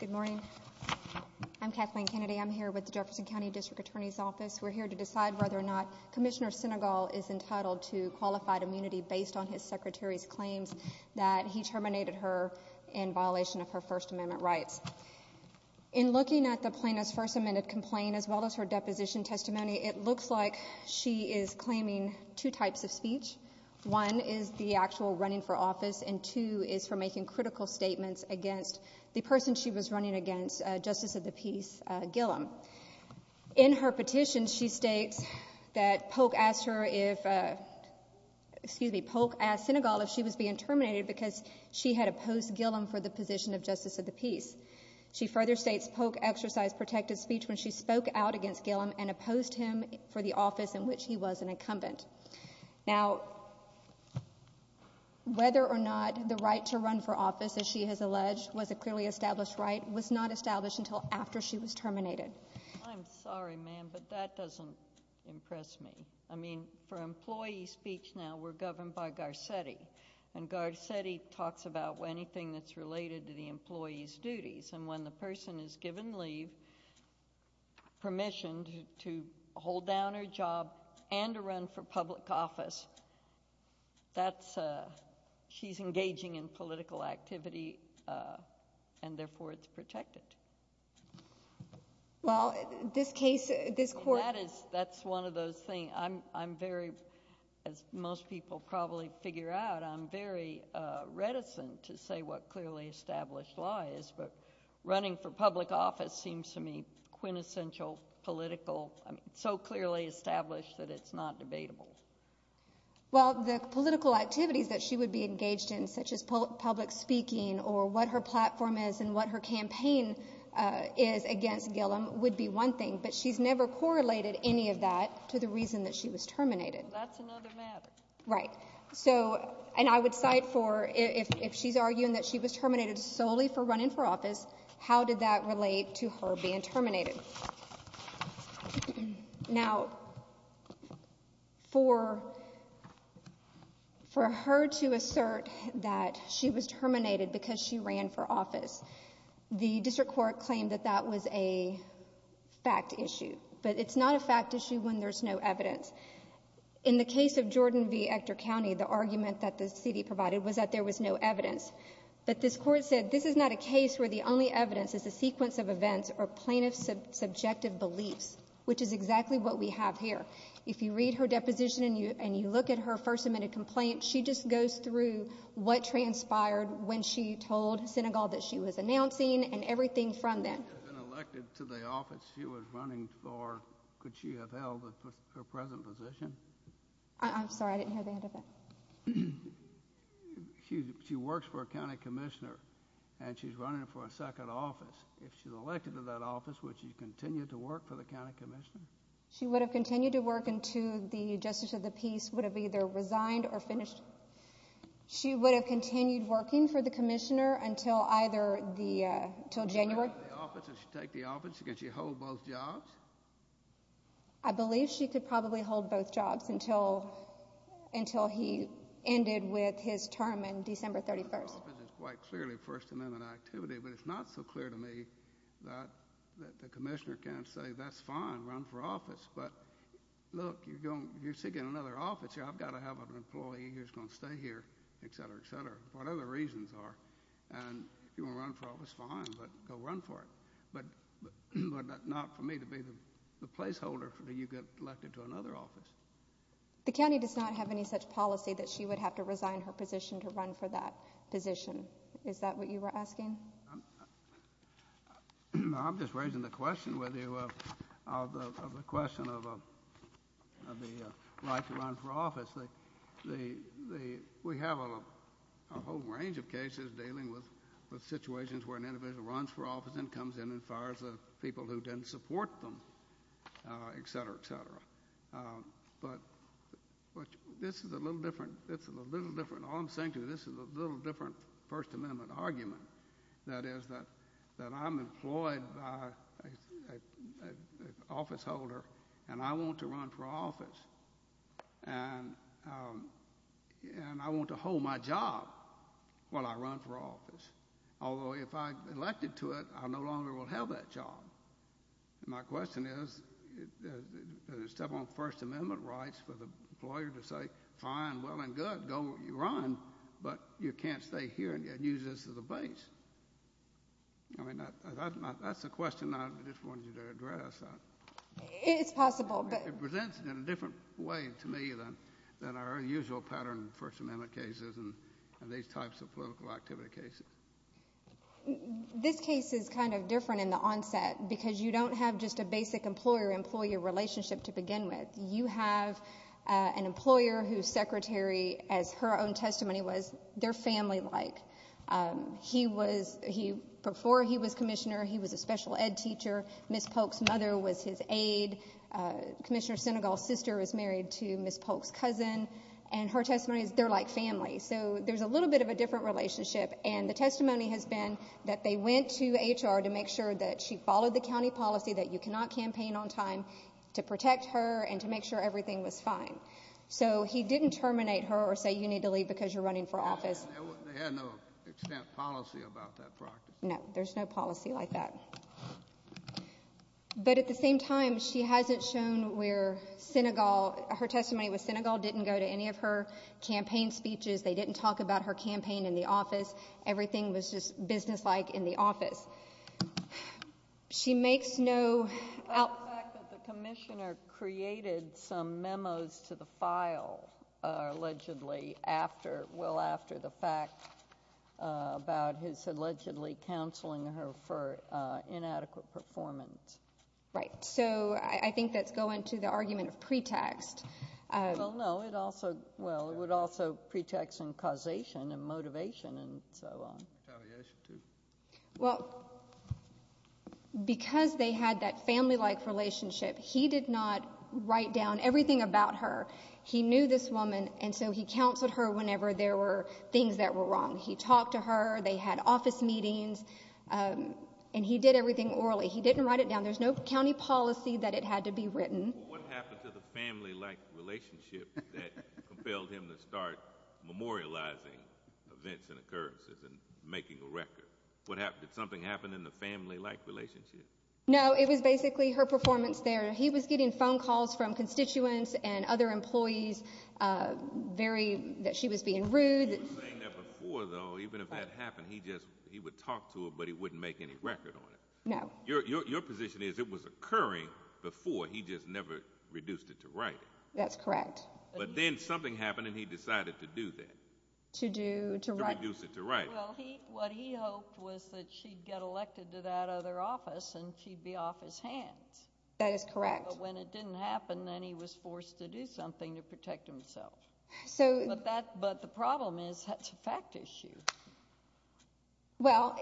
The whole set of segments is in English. Good morning. I'm Kathleen Kennedy. I'm here with the Jefferson County District Attorney's Office. We're here to decide whether or not Commissioner Sinegal is entitled to qualified immunity based on his Secretary's claims that he terminated her in violation of her First Amendment rights. In looking at the plaintiff's First Amendment complaint, as well as her is claiming two types of speech. One is the actual running for office and two is for making critical statements against the person she was running against, Justice of the Peace Gillum. In her petition, she states that Polk asked her if, excuse me, Polk asked Sinegal if she was being terminated because she had opposed Gillum for the position of Justice of the Peace. She further states Polk exercised protective speech when she spoke out against him, in which he was an incumbent. Now, whether or not the right to run for office, as she has alleged, was a clearly established right, was not established until after she was terminated. I'm sorry, ma'am, but that doesn't impress me. I mean, for employee speech now, we're governed by Garcetti. And Garcetti talks about anything that's related to the employee's job and to run for public office. That's, she's engaging in political activity, and therefore it's protected. Well, this case, this court... That is, that's one of those things. I'm very, as most people probably figure out, I'm very reticent to say what clearly established law is, but running for public office seems to me quintessential political, I mean, so clearly established that it's not debatable. Well, the political activities that she would be engaged in, such as public speaking or what her platform is and what her campaign is against Gillum, would be one thing. But she's never correlated any of that to the reason that she was terminated. Well, that's another matter. Right. So, and I would cite for, if she's arguing that she was terminated solely for being terminated. Now, for, for her to assert that she was terminated because she ran for office, the district court claimed that that was a fact issue. But it's not a fact issue when there's no evidence. In the case of Jordan v. Ector County, the argument that the city provided was that there was no evidence. But this court said, this is not a case where the only evidence is a sequence of events or plaintiff's subjective beliefs, which is exactly what we have here. If you read her deposition and you, and you look at her first amendment complaint, she just goes through what transpired when she told Senegal that she was announcing and everything from then. She was elected to the office she was running for. Could she have held her present position? I'm sorry, I didn't hear the end of that. She works for a county commissioner and she's running for a second office. If she's elected to that office, would she continue to work for the county commissioner? She would have continued to work until the justice of the peace would have either resigned or finished. She would have continued working for the commissioner until either the, until January. Would she take the office? Could she hold both jobs? I believe she could probably hold both jobs until, until he ended with his term in December 31st. It's quite clearly first amendment activity, but it's not so clear to me that the commissioner can't say, that's fine, run for office. But look, you're going, you're seeking another office here. I've got to have an employee who's going to stay here, et cetera, et cetera. What other reasons are, and if you want to run for office, fine, but go run for it. But not for me to be the placeholder for you to get elected to another office. The county does not have any such policy that she would have to resign her position to run for that position. Is that what you were asking? I'm just raising the question with you, the question of the right to run for office. We have a whole range of cases dealing with situations where an individual runs for office and comes in and fires the people who didn't support them, et cetera, et cetera. But, but this is a little different, this is a little different, all I'm saying to you, this is a little different first amendment argument. That is that, that I'm employed by an officeholder and I want to run for office. And, and I want to hold my job while I run for office. Although if I'm elected to it, I no longer will have that job. My question is, step on first amendment rights for the employer to say, fine, well and good, go run, but you can't stay here and use this as a base. I mean, that's a question I just wanted you to address. It's possible. It presents it in a different way to me than our usual pattern first amendment cases and these types of political activity cases. This case is kind of different in the onset because you don't have just a basic employer employer relationship to begin with. You have an employer whose secretary, as her own testimony was, they're family like. He was, he, before he was commissioner, he was a special ed teacher. Ms. Polk's mother was his aide. Commissioner Senegal's sister was married to Ms. Polk's family. So there's a little bit of a different relationship. And the testimony has been that they went to HR to make sure that she followed the county policy that you cannot campaign on time to protect her and to make sure everything was fine. So he didn't terminate her or say you need to leave because you're running for office. They had no extent policy about that practice. No, there's no policy like that. But at the same time, she hasn't shown where Senegal, her testimony with Senegal didn't go to any of her campaign speeches. They didn't talk about her campaign in the office. Everything was just businesslike in the office. She makes no out... The fact that the commissioner created some memos to the file allegedly after, well after the fact about his allegedly counseling her for inadequate performance. Right. So I think that's going to the argument of pretext. Well, no. It also, well, it would also pretext in causation and motivation and so on. Well, because they had that family-like relationship, he did not write down everything about her. He knew this woman, and so he counseled her whenever there were things that were wrong. He talked to her. They had office meetings. And he did everything orally. He didn't write it down. There's no county policy that it had to be written. What happened to the family-like relationship that compelled him to start memorializing events and occurrences and making a record? What happened? Did something happen in the family-like relationship? No, it was basically her performance there. He was getting phone calls from constituents and other employees, very, that she was being rude. You were saying that before, though, even if that happened, he just, he would talk to her, but he wouldn't make any record on it. No. Your position is it was occurring before. He just never reduced it to writing. That's correct. But then something happened, and he decided to do that. To do, to write. To reduce it to writing. Well, he, what he hoped was that she'd get elected to that other office, and she'd be off his hands. That is correct. But when it didn't happen, then he was forced to do something to protect himself. So. But that, but the problem is that's a fact issue. Well,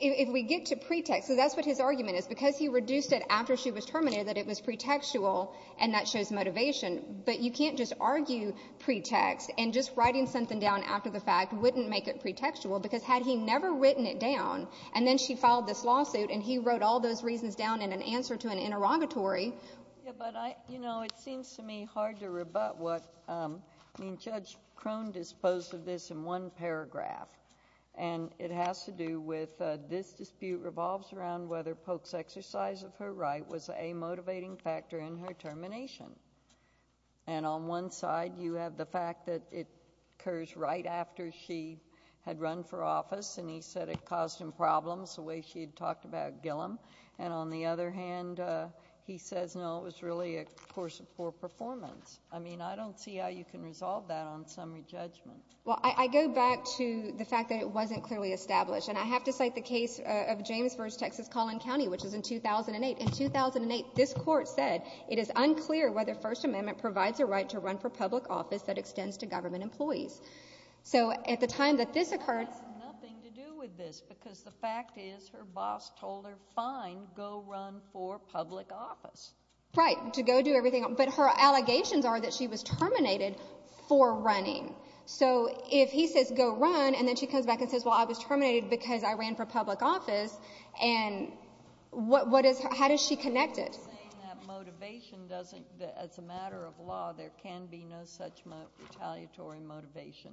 if we get to pretext, so that's what his argument is, because he reduced it after she was terminated, that it was pretextual, and that shows motivation. But you can't just argue pretext, and just writing something down after the fact wouldn't make it pretextual, because had he never written it down, and then she filed this lawsuit, and he wrote all those reasons down in an answer to an interrogatory. Yeah, but I, you know, it seems to me hard to rebut what, I mean, Judge Crone disposed of this in one paragraph, and it has to do with this dispute revolves around whether Polk's exercise of her right was a motivating factor in her termination. And on one side, you have the fact that it occurs right after she had run for office, and he said it caused him problems, the way she had talked about Gillum. And on the other hand, he says, no, it was really a course of poor performance. I mean, I don't see how you can resolve that on summary judgment. Well, I go back to the fact that it wasn't clearly established. And I have to cite the case of James v. Texas-Collin County, which was in 2008. In 2008, this Court said, it is unclear whether First Amendment provides a right to run for public office that extends to government employees. So at the time that this occurred — It has nothing to do with this, because the fact is her boss told her, fine, go run for public office. Right, to go do everything. But her allegations are that she was terminated for running. So if he says, go run, and then she comes back and says, well, I was terminated because I ran for public office, and what is — how does she connect it? You're saying that motivation doesn't — as a matter of law, there can be no such retaliatory motivation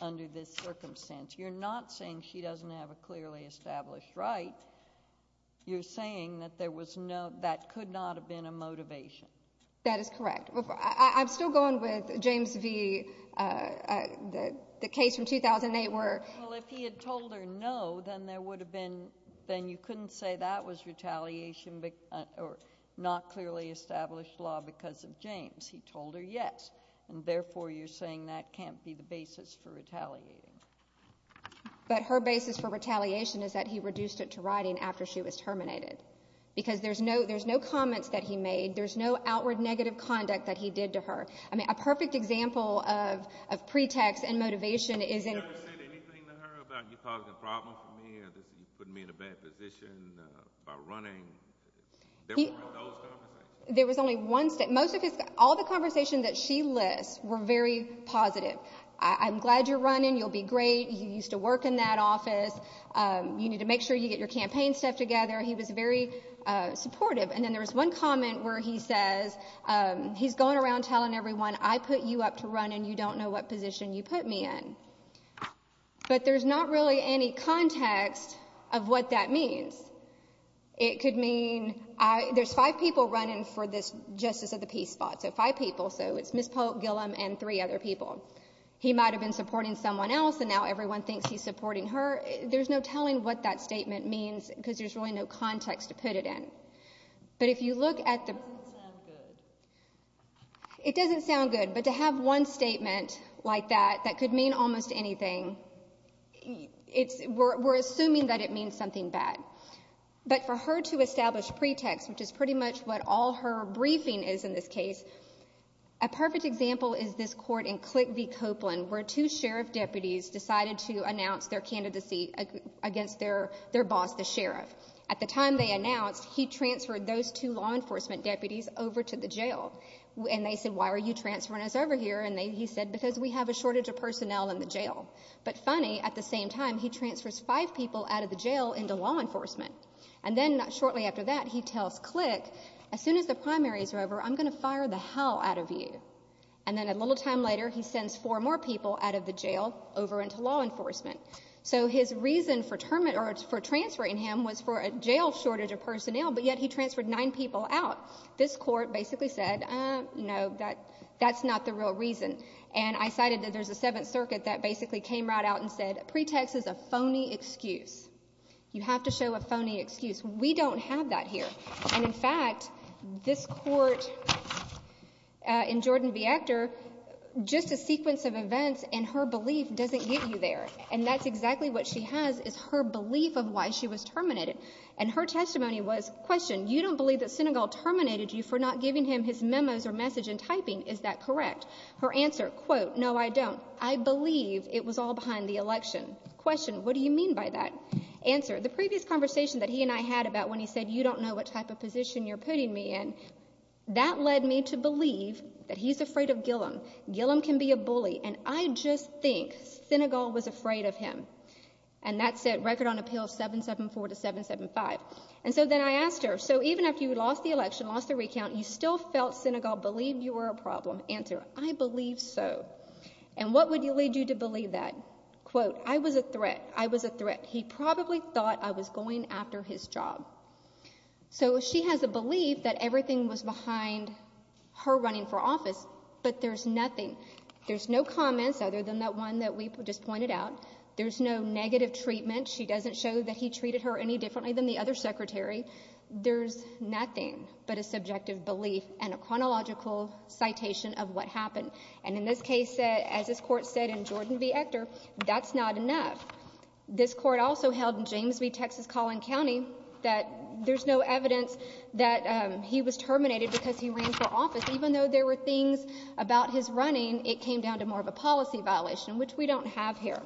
under this circumstance. You're not saying she doesn't have a clearly established right. You're saying that there was no — that could not have been a motivation. That is correct. I'm still going with James v. — the case from 2008 were — Well, if he had told her no, then there would have been — then you couldn't say that was retaliation or not clearly established law because of James. He told her yes. And therefore, you're saying that can't be the basis for retaliating. But her basis for retaliation is that he reduced it to writing after she was terminated because there's no comments that he made. There's no outward negative conduct that he did to her. I mean, a perfect example of pretext and motivation is in — Did he ever say anything to her about you causing a problem for me or putting me in a bad position by running? There weren't those conversations. There was only one — most of his — all the conversations that she lists were very positive. I'm glad you're running. You'll be great. You used to work in that office. You need to make sure you get your campaign stuff together. He was very supportive. And then there was one comment where he says — he's going around telling everyone, I put you up to run and you don't know what position you put me in. But there's not really any context of what that means. It could mean — there's five people running for this justice of the peace spot, so five people. So it's Ms. Polk, Gillum, and three other people. He might have been supporting someone else, and now everyone thinks he's supporting her. There's no telling what that statement means because there's really no context to put it in. But if you look at the — It doesn't sound good. It doesn't sound good. But to have one statement like that that could mean almost anything, we're assuming that it means something bad. But for her to establish pretext, which is pretty much what all her briefing is in this case, a perfect example is this court in Click v. Copeland, where two sheriff deputies decided to announce their candidacy against their boss, the sheriff. At the time they announced, he transferred those two law enforcement deputies over to the jail. And they said, why are you transferring us over here? And he said, because we have a shortage of personnel in the jail. But funny, at the same time, he transfers five people out of the jail into law enforcement. And then shortly after that, he tells Click, as soon as the primaries are over, I'm going to fire the hell out of you. And then a little time later, he sends four more people out of the jail over into law enforcement. So his reason for transferring him was for a jail shortage of personnel, but yet he transferred nine people out. This court basically said, no, that's not the real reason. And I cited that there's a Seventh Circuit that basically came right out and said, pretext is a phony excuse. You have to show a phony excuse. We don't have that here. And, in fact, this court in Jordan v. Ector, just a sequence of events and her belief doesn't get you there. And that's exactly what she has is her belief of why she was terminated. And her testimony was, question, you don't believe that Senegal terminated you for not giving him his memos or message in typing. Is that correct? Her answer, quote, no, I don't. I believe it was all behind the election. Question, what do you mean by that? Answer, the previous conversation that he and I had about when he said, you don't know what type of position you're putting me in, that led me to believe that he's afraid of Gillum. Gillum can be a bully. And I just think Senegal was afraid of him. And that said, record on appeals 774 to 775. And so then I asked her, so even after you lost the election, lost the recount, you still felt Senegal believed you were a problem? Answer, I believe so. And what would lead you to believe that? Quote, I was a threat. I was a threat. He probably thought I was going after his job. So she has a belief that everything was behind her running for office, but there's nothing. There's no comments other than that one that we just pointed out. There's no negative treatment. She doesn't show that he treated her any differently than the other secretary. There's nothing but a subjective belief and a chronological citation of what happened. And in this case, as this Court said in Jordan v. Ector, that's not enough. This Court also held in James v. Texas Collin County that there's no evidence that he was terminated because he ran for office. Even though there were things about his running, it came down to more of a policy violation, which we don't have here.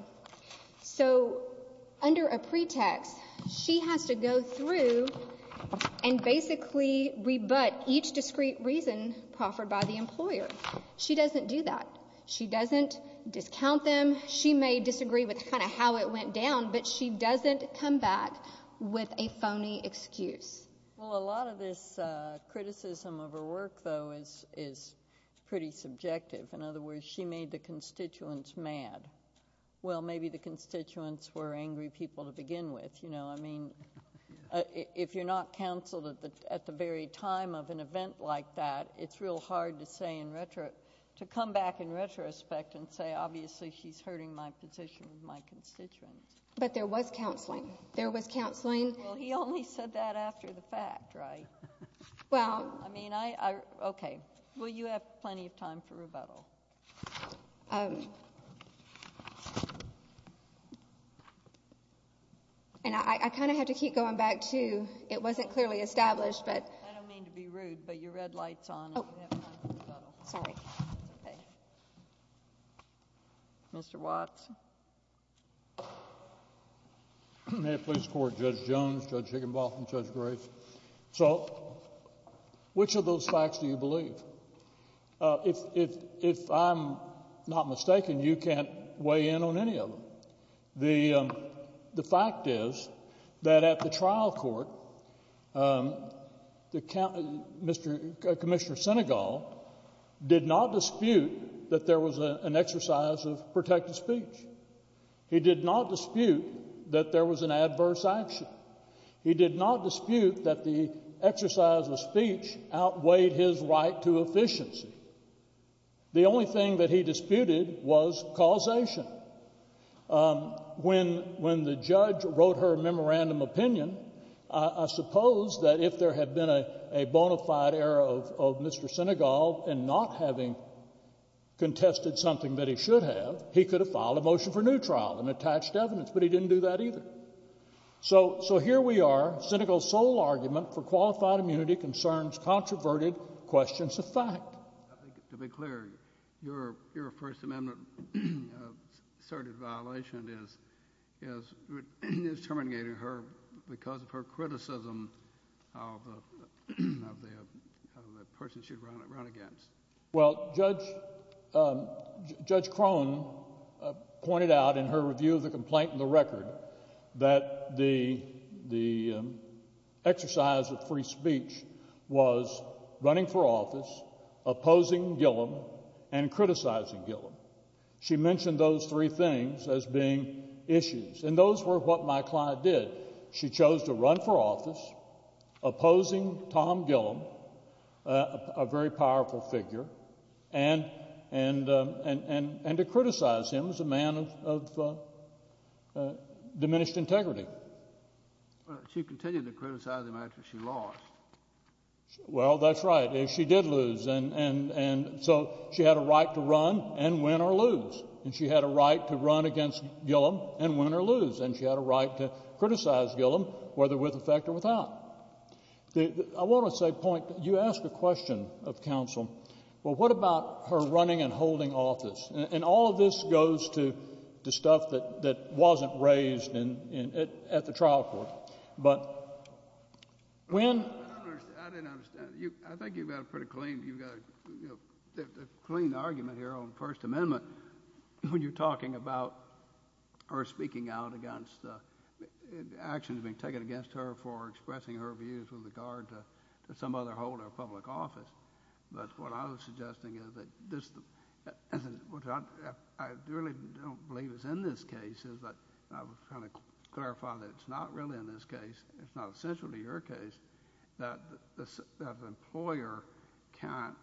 So under a pretext, she has to go through and basically rebut each discrete reason proffered by the employer. She doesn't do that. She doesn't discount them. She may disagree with kind of how it went down, but she doesn't come back with a phony excuse. Well, a lot of this criticism of her work, though, is pretty subjective. In other words, she made the constituents mad. Well, maybe the constituents were angry people to begin with. I mean, if you're not counseled at the very time of an event like that, it's real hard to come back in retrospect and say, obviously, she's hurting my position with my constituents. But there was counseling. There was counseling. Well, he only said that after the fact, right? Well, I mean, okay. Well, you have plenty of time for rebuttal. And I kind of have to keep going back, too. It wasn't clearly established. I don't mean to be rude, but your red light's on and you have time for rebuttal. Sorry. Mr. Watts. May it please the Court, Judge Jones, Judge Higginbotham, Judge Grace. So which of those facts do you believe? If I'm not mistaken, you can't weigh in on any of them. The fact is that at the trial court, Commissioner Senegal did not dispute that there was an exercise of protected speech. He did not dispute that there was an adverse action. He did not dispute that the exercise of speech outweighed his right to efficiency. The only thing that he disputed was causation. When the judge wrote her memorandum opinion, I suppose that if there had been a bona fide error of Mr. Senegal and not having contested something that he should have, he could have filed a motion for new trial and attached evidence. But he didn't do that either. So here we are. Senegal's sole argument for qualified immunity concerns controverted questions of fact. To be clear, your First Amendment-asserted violation is terminating her because of her criticism of the person she'd run against. Well, Judge Crone pointed out in her review of the complaint in the record that the exercise of free speech was running for office, opposing Gillum, and criticizing Gillum. She mentioned those three things as being issues, and those were what my client did. She chose to run for office, opposing Tom Gillum, a very powerful figure, and to criticize him as a man of diminished integrity. She continued to criticize him after she lost. Well, that's right. She did lose, and so she had a right to run and win or lose, and she had a right to run against Gillum and win or lose, and she had a right to criticize Gillum, whether with effect or without. I want to say a point. You ask a question of counsel, well, what about her running and holding office? And all of this goes to the stuff that wasn't raised at the trial court. But when— I didn't understand. I think you've got a pretty clean argument here on the First Amendment when you're talking about her speaking out against actions being taken against her for expressing her views with regard to some other holder of public office. But what I was suggesting is that this—what I really don't believe is in this case is that—I was trying to clarify that it's not really in this case. It's not essential to your case that the employer can't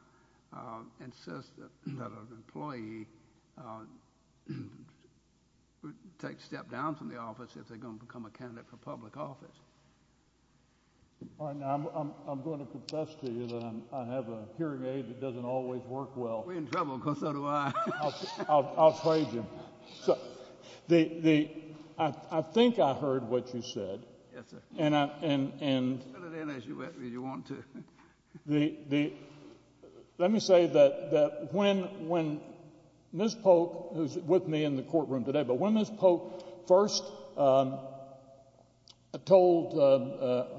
insist that an employee would take a step down from the office if they're going to become a candidate for public office. All right. Now, I'm going to confess to you that I have a hearing aid that doesn't always work well. We're in trouble, because so do I. I'll trade you. The—I think I heard what you said. Yes, sir. And I— You can fill it in as you want to. The—let me say that when Ms. Polk, who's with me in the courtroom today, but when Ms. Polk first told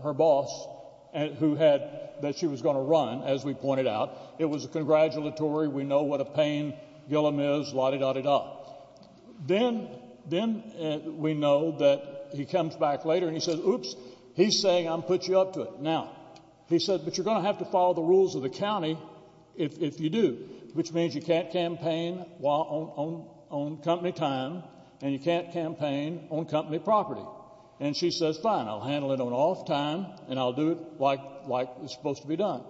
her boss who had—that she was going to run, as we pointed out, it was a congratulatory, we know what a pain Gillum is, la-di-da-di-da. Then we know that he comes back later and he says, oops, he's saying I'm going to put you up to it. Now, he said, but you're going to have to follow the rules of the county if you do, which means you can't campaign on company time and you can't campaign on company property. And she says, fine, I'll handle it on off time and I'll do it like it's supposed to be done.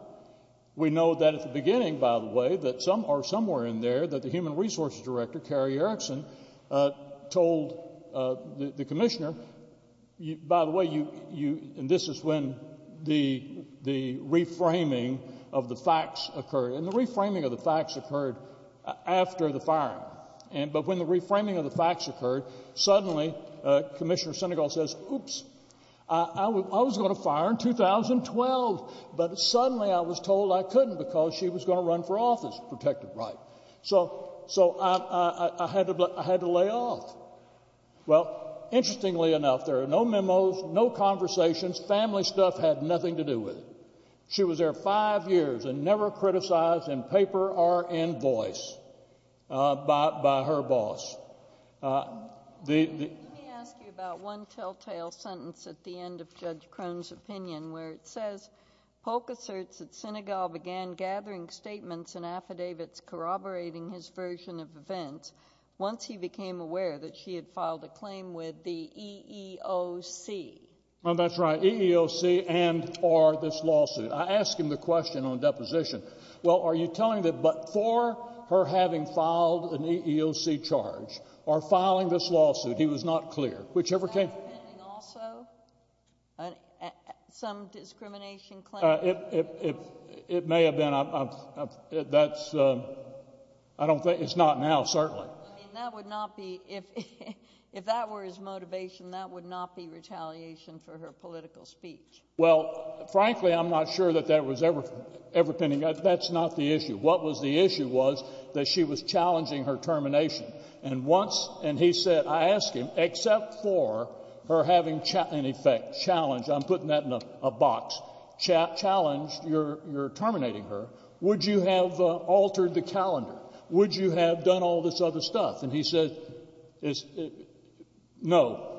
We know that at the beginning, by the way, that some—or somewhere in there that the human resources director, Carrie Erickson, told the commissioner, by the way, you—and this is when the reframing of the facts occurred. And the reframing of the facts occurred after the firing. But when the reframing of the facts occurred, suddenly Commissioner Senegal says, oops, I was going to fire in 2012, but suddenly I was told I couldn't because she was going to run for office, protected right. So I had to lay off. Well, interestingly enough, there are no memos, no conversations, family stuff had nothing to do with it. She was there five years and never criticized in paper or in voice by her boss. Let me ask you about one telltale sentence at the end of Judge Crone's opinion where it says, Polk asserts that Senegal began gathering statements and affidavits corroborating his version of events once he became aware that she had filed a claim with the EEOC. Oh, that's right, EEOC and—or this lawsuit. I asked him the question on deposition. Well, are you telling that before her having filed an EEOC charge or filing this lawsuit, he was not clear, whichever case— Was that defending also some discrimination claim? It may have been. That's—I don't think—it's not now, certainly. I mean, that would not be—if that were his motivation, that would not be retaliation for her political speech. Well, frankly, I'm not sure that that was ever pending. That's not the issue. What was the issue was that she was challenging her termination. And once—and he said—I asked him, except for her having in effect challenged—I'm putting that in a box—challenged your terminating her, would you have altered the calendar? Would you have done all this other stuff? And he said, no.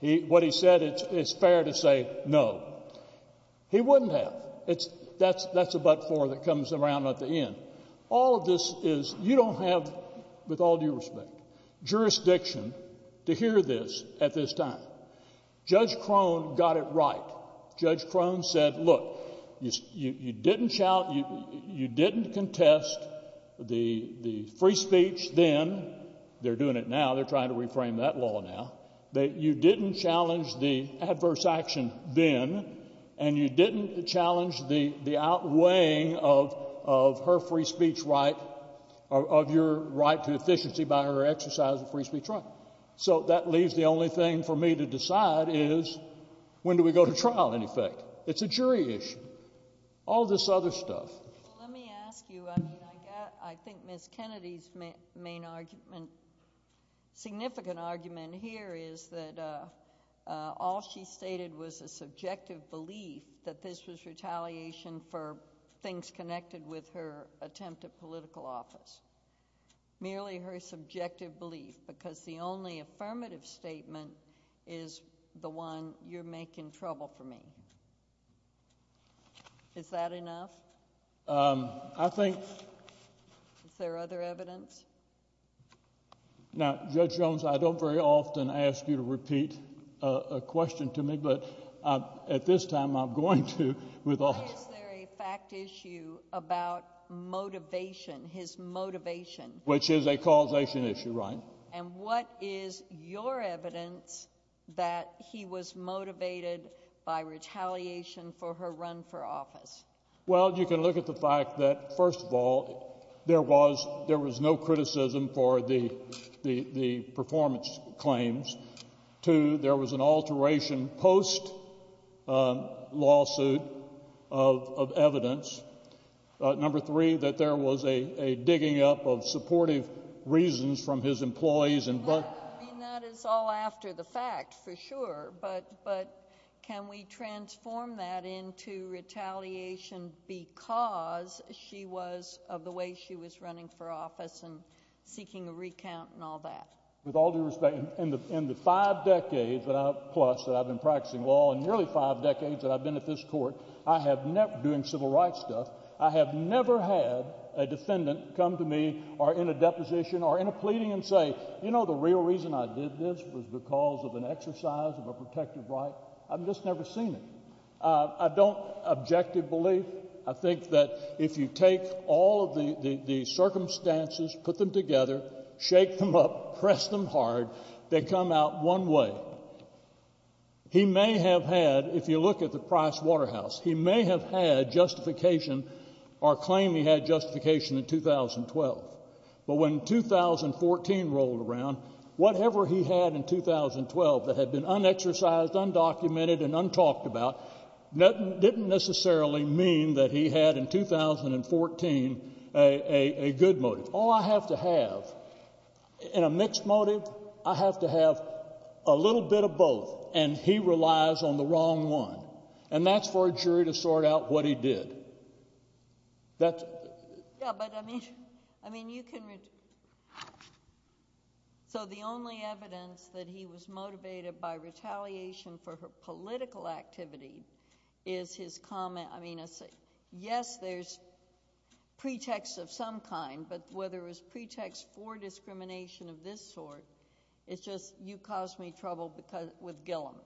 What he said, it's fair to say no. He wouldn't have. That's a but-for that comes around at the end. All of this is—you don't have, with all due respect, jurisdiction to hear this at this time. Judge Crone got it right. Judge Crone said, look, you didn't shout—you didn't contest the free speech then—they're doing it now, they're trying to reframe that law now—that you didn't challenge the adverse action then, and you didn't challenge the outweighing of her free speech right—of your right to efficiency by her exercise of free speech right. So that leaves the only thing for me to decide is when do we go to trial, in effect. It's a jury issue. All this other stuff. Well, let me ask you—I mean, I think Ms. Kennedy's main argument—significant argument here is that all she stated was a subjective belief that this was retaliation for things connected with her attempt at political office. Merely her subjective belief, because the only affirmative statement is the one, you're making trouble for me. Is that enough? I think— Is there other evidence? Now, Judge Jones, I don't very often ask you to repeat a question to me, but at this time I'm going to with all— Is there a fact issue about motivation, his motivation? Which is a causation issue, right. And what is your evidence that he was motivated by retaliation for her run for office? Well, you can look at the fact that, first of all, there was no criticism for the performance claims. Two, there was an alteration post-lawsuit of evidence. Number three, that there was a digging up of supportive reasons from his employees and— I mean, that is all after the fact, for sure, but can we transform that into retaliation because she was—of the way she was running for office and seeking a recount and all that? With all due respect, in the five decades plus that I've been practicing law and nearly five decades that I've been at this Court, I have never—doing civil rights stuff, I have never had a defendant come to me or in a deposition or in a pleading and say, you know, the real reason I did this was because of an exercise of a protective right. I've just never seen it. I don't—objective belief. I think that if you take all of the circumstances, put them together, shake them up, press them hard, they come out one way. He may have had—if you look at the Price Waterhouse, he may have had justification or claimed he had justification in 2012. But when 2014 rolled around, whatever he had in 2012 that had been unexercised, undocumented and untalked about didn't necessarily mean that he had in 2014 a good motive. All I have to have in a mixed motive, I have to have a little bit of both, and he relies on the wrong one, and that's for a jury to sort out what he did. That's— Yeah, but, I mean, you can—so the only evidence that he was motivated by retaliation for her political activity is his comment—I mean, yes, there's pretext of some kind, but whether it was pretext for discrimination of this sort, it's just, you caused me trouble with Gillum.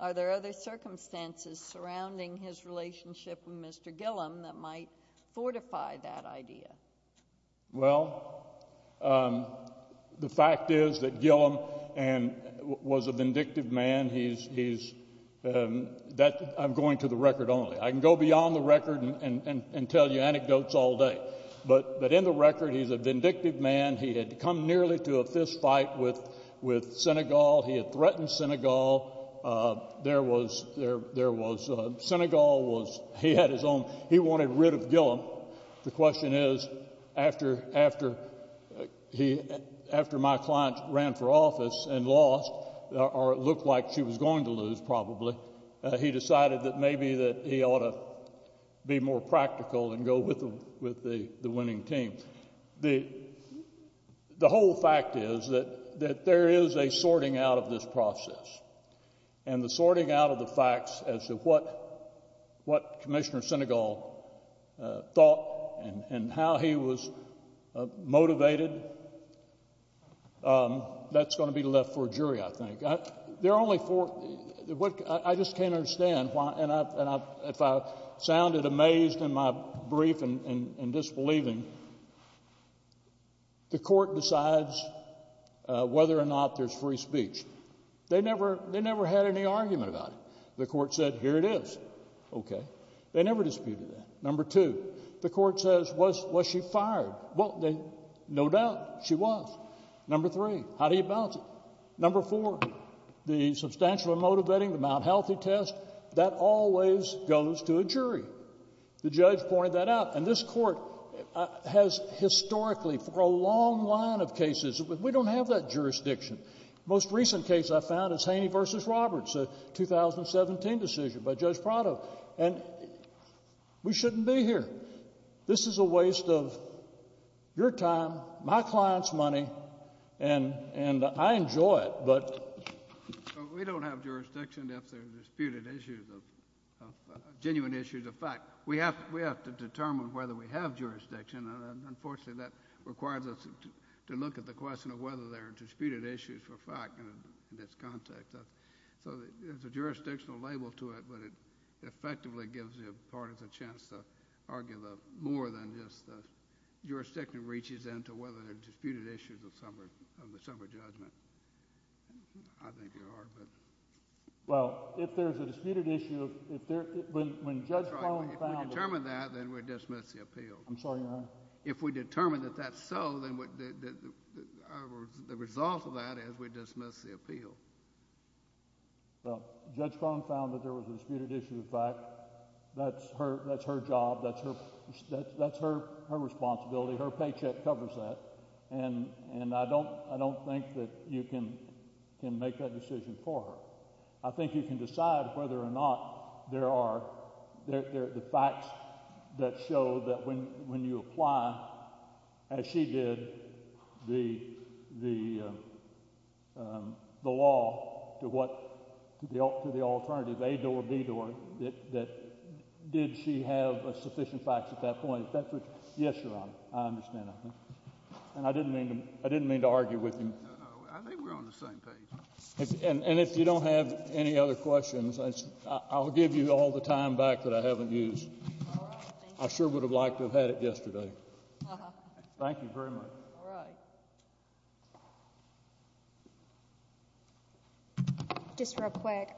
Are there other circumstances surrounding his relationship with Mr. Gillum that might fortify that idea? Well, the fact is that Gillum was a vindictive man. He's—I'm going to the record only. I can go beyond the record and tell you anecdotes all day, but in the record, he's a vindictive man. He had come nearly to a fistfight with Senegal. He had threatened Senegal. There was—Senegal was—he had his own—he wanted rid of Gillum. The question is, after my client ran for office and lost, or it looked like she was going to lose probably, he decided that maybe that he ought to be more practical and go with the winning team. The whole fact is that there is a sorting out of this process, and the sorting out of the facts as to what Commissioner Senegal thought and how he was motivated, that's going to be left for a jury, I think. There are only four—I just can't understand why—and if I sounded amazed in my brief and disbelieving, the Court decides whether or not there's free speech. They never had any argument about it. The Court said, here it is. OK. They never disputed that. Number two, the Court says, was she fired? Well, no doubt she was. Number three, how do you balance it? Number four, the substantial emotive vetting, the Mount Healthy test, that always goes to a jury. The judge pointed that out. And this Court has historically, for a long line of cases, we don't have that jurisdiction. The most recent case I found is Haney v. Roberts, a 2017 decision by Judge Prado. And we shouldn't be here. This is a waste of your time, my client's money, and I enjoy it, but— We don't have jurisdiction if there are disputed issues of genuine issues of fact. We have to determine whether we have jurisdiction. Unfortunately, that requires us to look at the question of whether there are disputed issues for fact in this context. So there's a jurisdictional label to it, but it effectively gives the parties a chance to argue more than just the jurisdiction reaches into whether there are disputed issues of the summary judgment. I think there are, but— Well, if there's a disputed issue of— If we determine that, then we dismiss the appeal. I'm sorry, Your Honor. If we determine that that's so, then the result of that is we dismiss the appeal. Well, Judge Cohn found that there was a disputed issue of fact. That's her job. That's her responsibility. Her paycheck covers that. And I don't think that you can make that decision for her. I think you can decide whether or not there are the facts that show that when you apply, as she did, the law to what—to the alternative, A door, B door, that did she have sufficient facts at that point. Yes, Your Honor. I understand that. And I didn't mean to argue with you. No, no. I think we're on the same page. And if you don't have any other questions, I'll give you all the time back that I haven't used. All right. Thank you. I sure would have liked to have had it yesterday. Thank you very much. All right. Just real quick.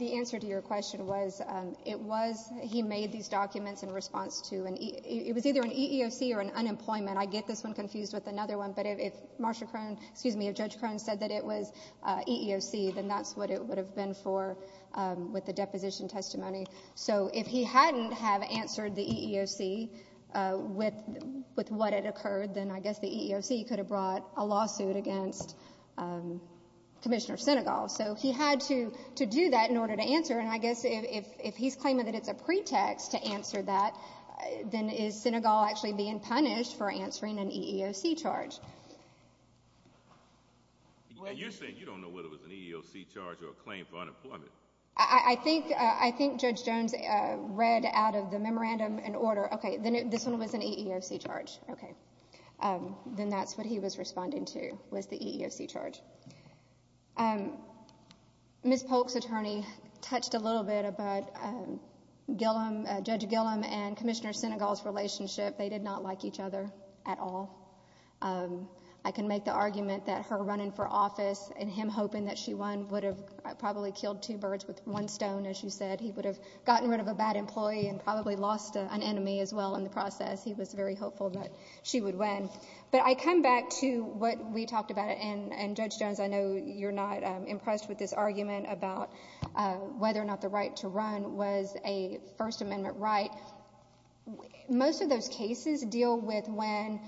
The answer to your question was it was—he made these documents in response to an—it was either an EEOC or an unemployment. I get this one confused with another one. But if Marsha Crone—excuse me, if Judge Crone said that it was EEOC, then that's what it would have been for with the deposition testimony. So if he hadn't have answered the EEOC with what had occurred, then I guess the EEOC could have brought a lawsuit against Commissioner Sinegal. So he had to do that in order to answer. And I guess if he's claiming that it's a pretext to answer that, then is Sinegal actually being punished for answering an EEOC charge? You're saying you don't know whether it was an EEOC charge or a claim for unemployment. I think Judge Jones read out of the memorandum and order, okay, this one was an EEOC charge. Okay. Then that's what he was responding to was the EEOC charge. Ms. Polk's attorney touched a little bit about Gillum—Judge Gillum and Commissioner Sinegal's relationship. They did not like each other at all. I can make the argument that her running for office and him hoping that she won would have probably killed two birds with one stone, as you said. He would have gotten rid of a bad employee and probably lost an enemy as well in the process. He was very hopeful that she would win. But I come back to what we talked about, and, Judge Jones, I know you're not impressed with this argument about whether or not the right to run was a First Amendment right. Most of those cases deal with when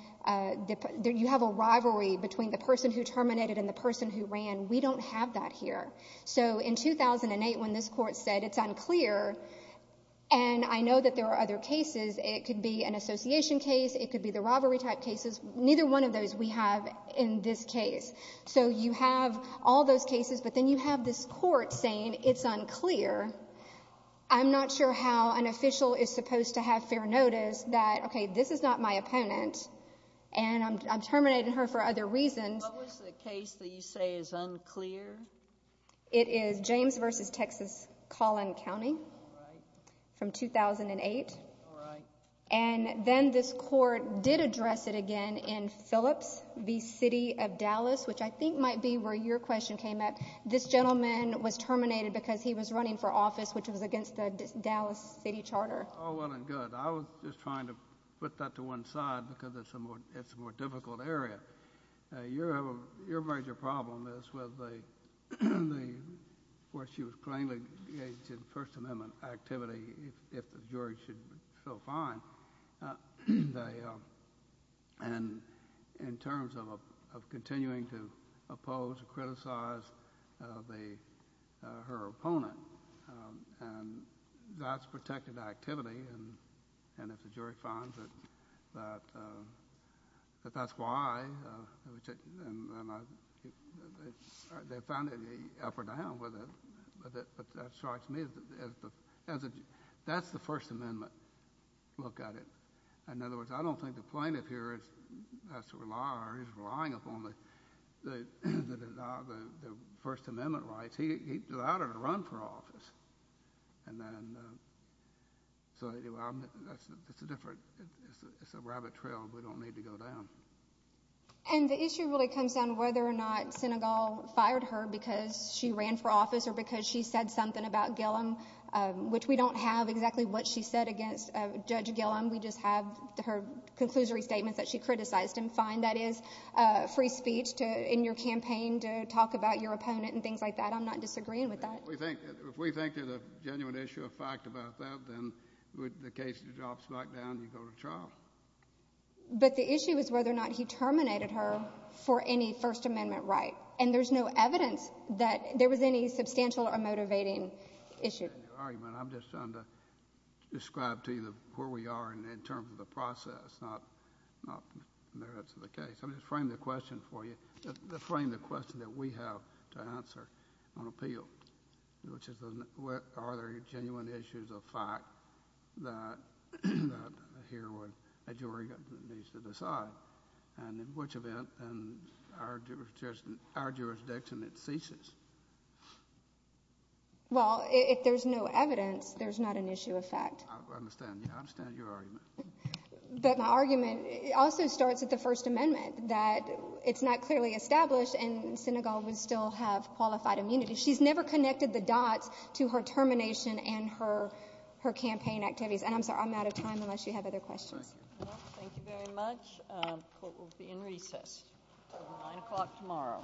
you have a rivalry between the person who terminated and the person who ran. We don't have that here. So in 2008, when this Court said it's unclear, and I know that there are other cases, it could be an association case, it could be the rivalry type cases, neither one of those we have in this case. So you have all those cases, but then you have this Court saying it's unclear. I'm not sure how an official is supposed to have fair notice that, OK, this is not my opponent, and I'm terminating her for other reasons. What was the case that you say is unclear? It is James v. Texas-Collin County from 2008. All right. And then this Court did address it again in Phillips v. City of Dallas, which I think might be where your question came up. This gentleman was terminated because he was running for office, which was against the Dallas City Charter. Oh, well and good. I was just trying to put that to one side because it's a more difficult area. Your major problem is with where she was plainly engaged in First Amendment activity, if the jury should feel fine, and in terms of continuing to oppose or criticize her opponent, and that's protected activity, and if the jury finds that that's why, and they found any up or down with it. But that strikes me as a—that's the First Amendment look at it. In other words, I don't think the plaintiff here has to rely or is relying upon the First Amendment rights. He allowed her to run for office, and then so anyway, that's a different—it's a rabbit trail. We don't need to go down. And the issue really comes down to whether or not Senegal fired her because she ran for office or because she said something about Gillum, which we don't have exactly what she said against Judge Gillum. We just have her conclusory statements that she criticized him. Fine, that is free speech in your campaign to talk about your opponent and things like that. I'm not disagreeing with that. If we think there's a genuine issue of fact about that, then the case drops back down and you go to trial. But the issue is whether or not he terminated her for any First Amendment right. And there's no evidence that there was any substantial or motivating issue. I'm just trying to describe to you where we are in terms of the process, not merits of the case. Let me frame the question for you, frame the question that we have to answer on appeal, which is are there genuine issues of fact that a jury needs to decide, and in which event, in our jurisdiction, it ceases. Well, if there's no evidence, there's not an issue of fact. I understand. I understand your argument. But my argument also starts with the First Amendment, that it's not clearly established and Senegal would still have qualified immunity. She's never connected the dots to her termination and her campaign activities. And I'm sorry, I'm out of time unless you have other questions. Thank you very much. Court will be in recess until 9 o'clock tomorrow.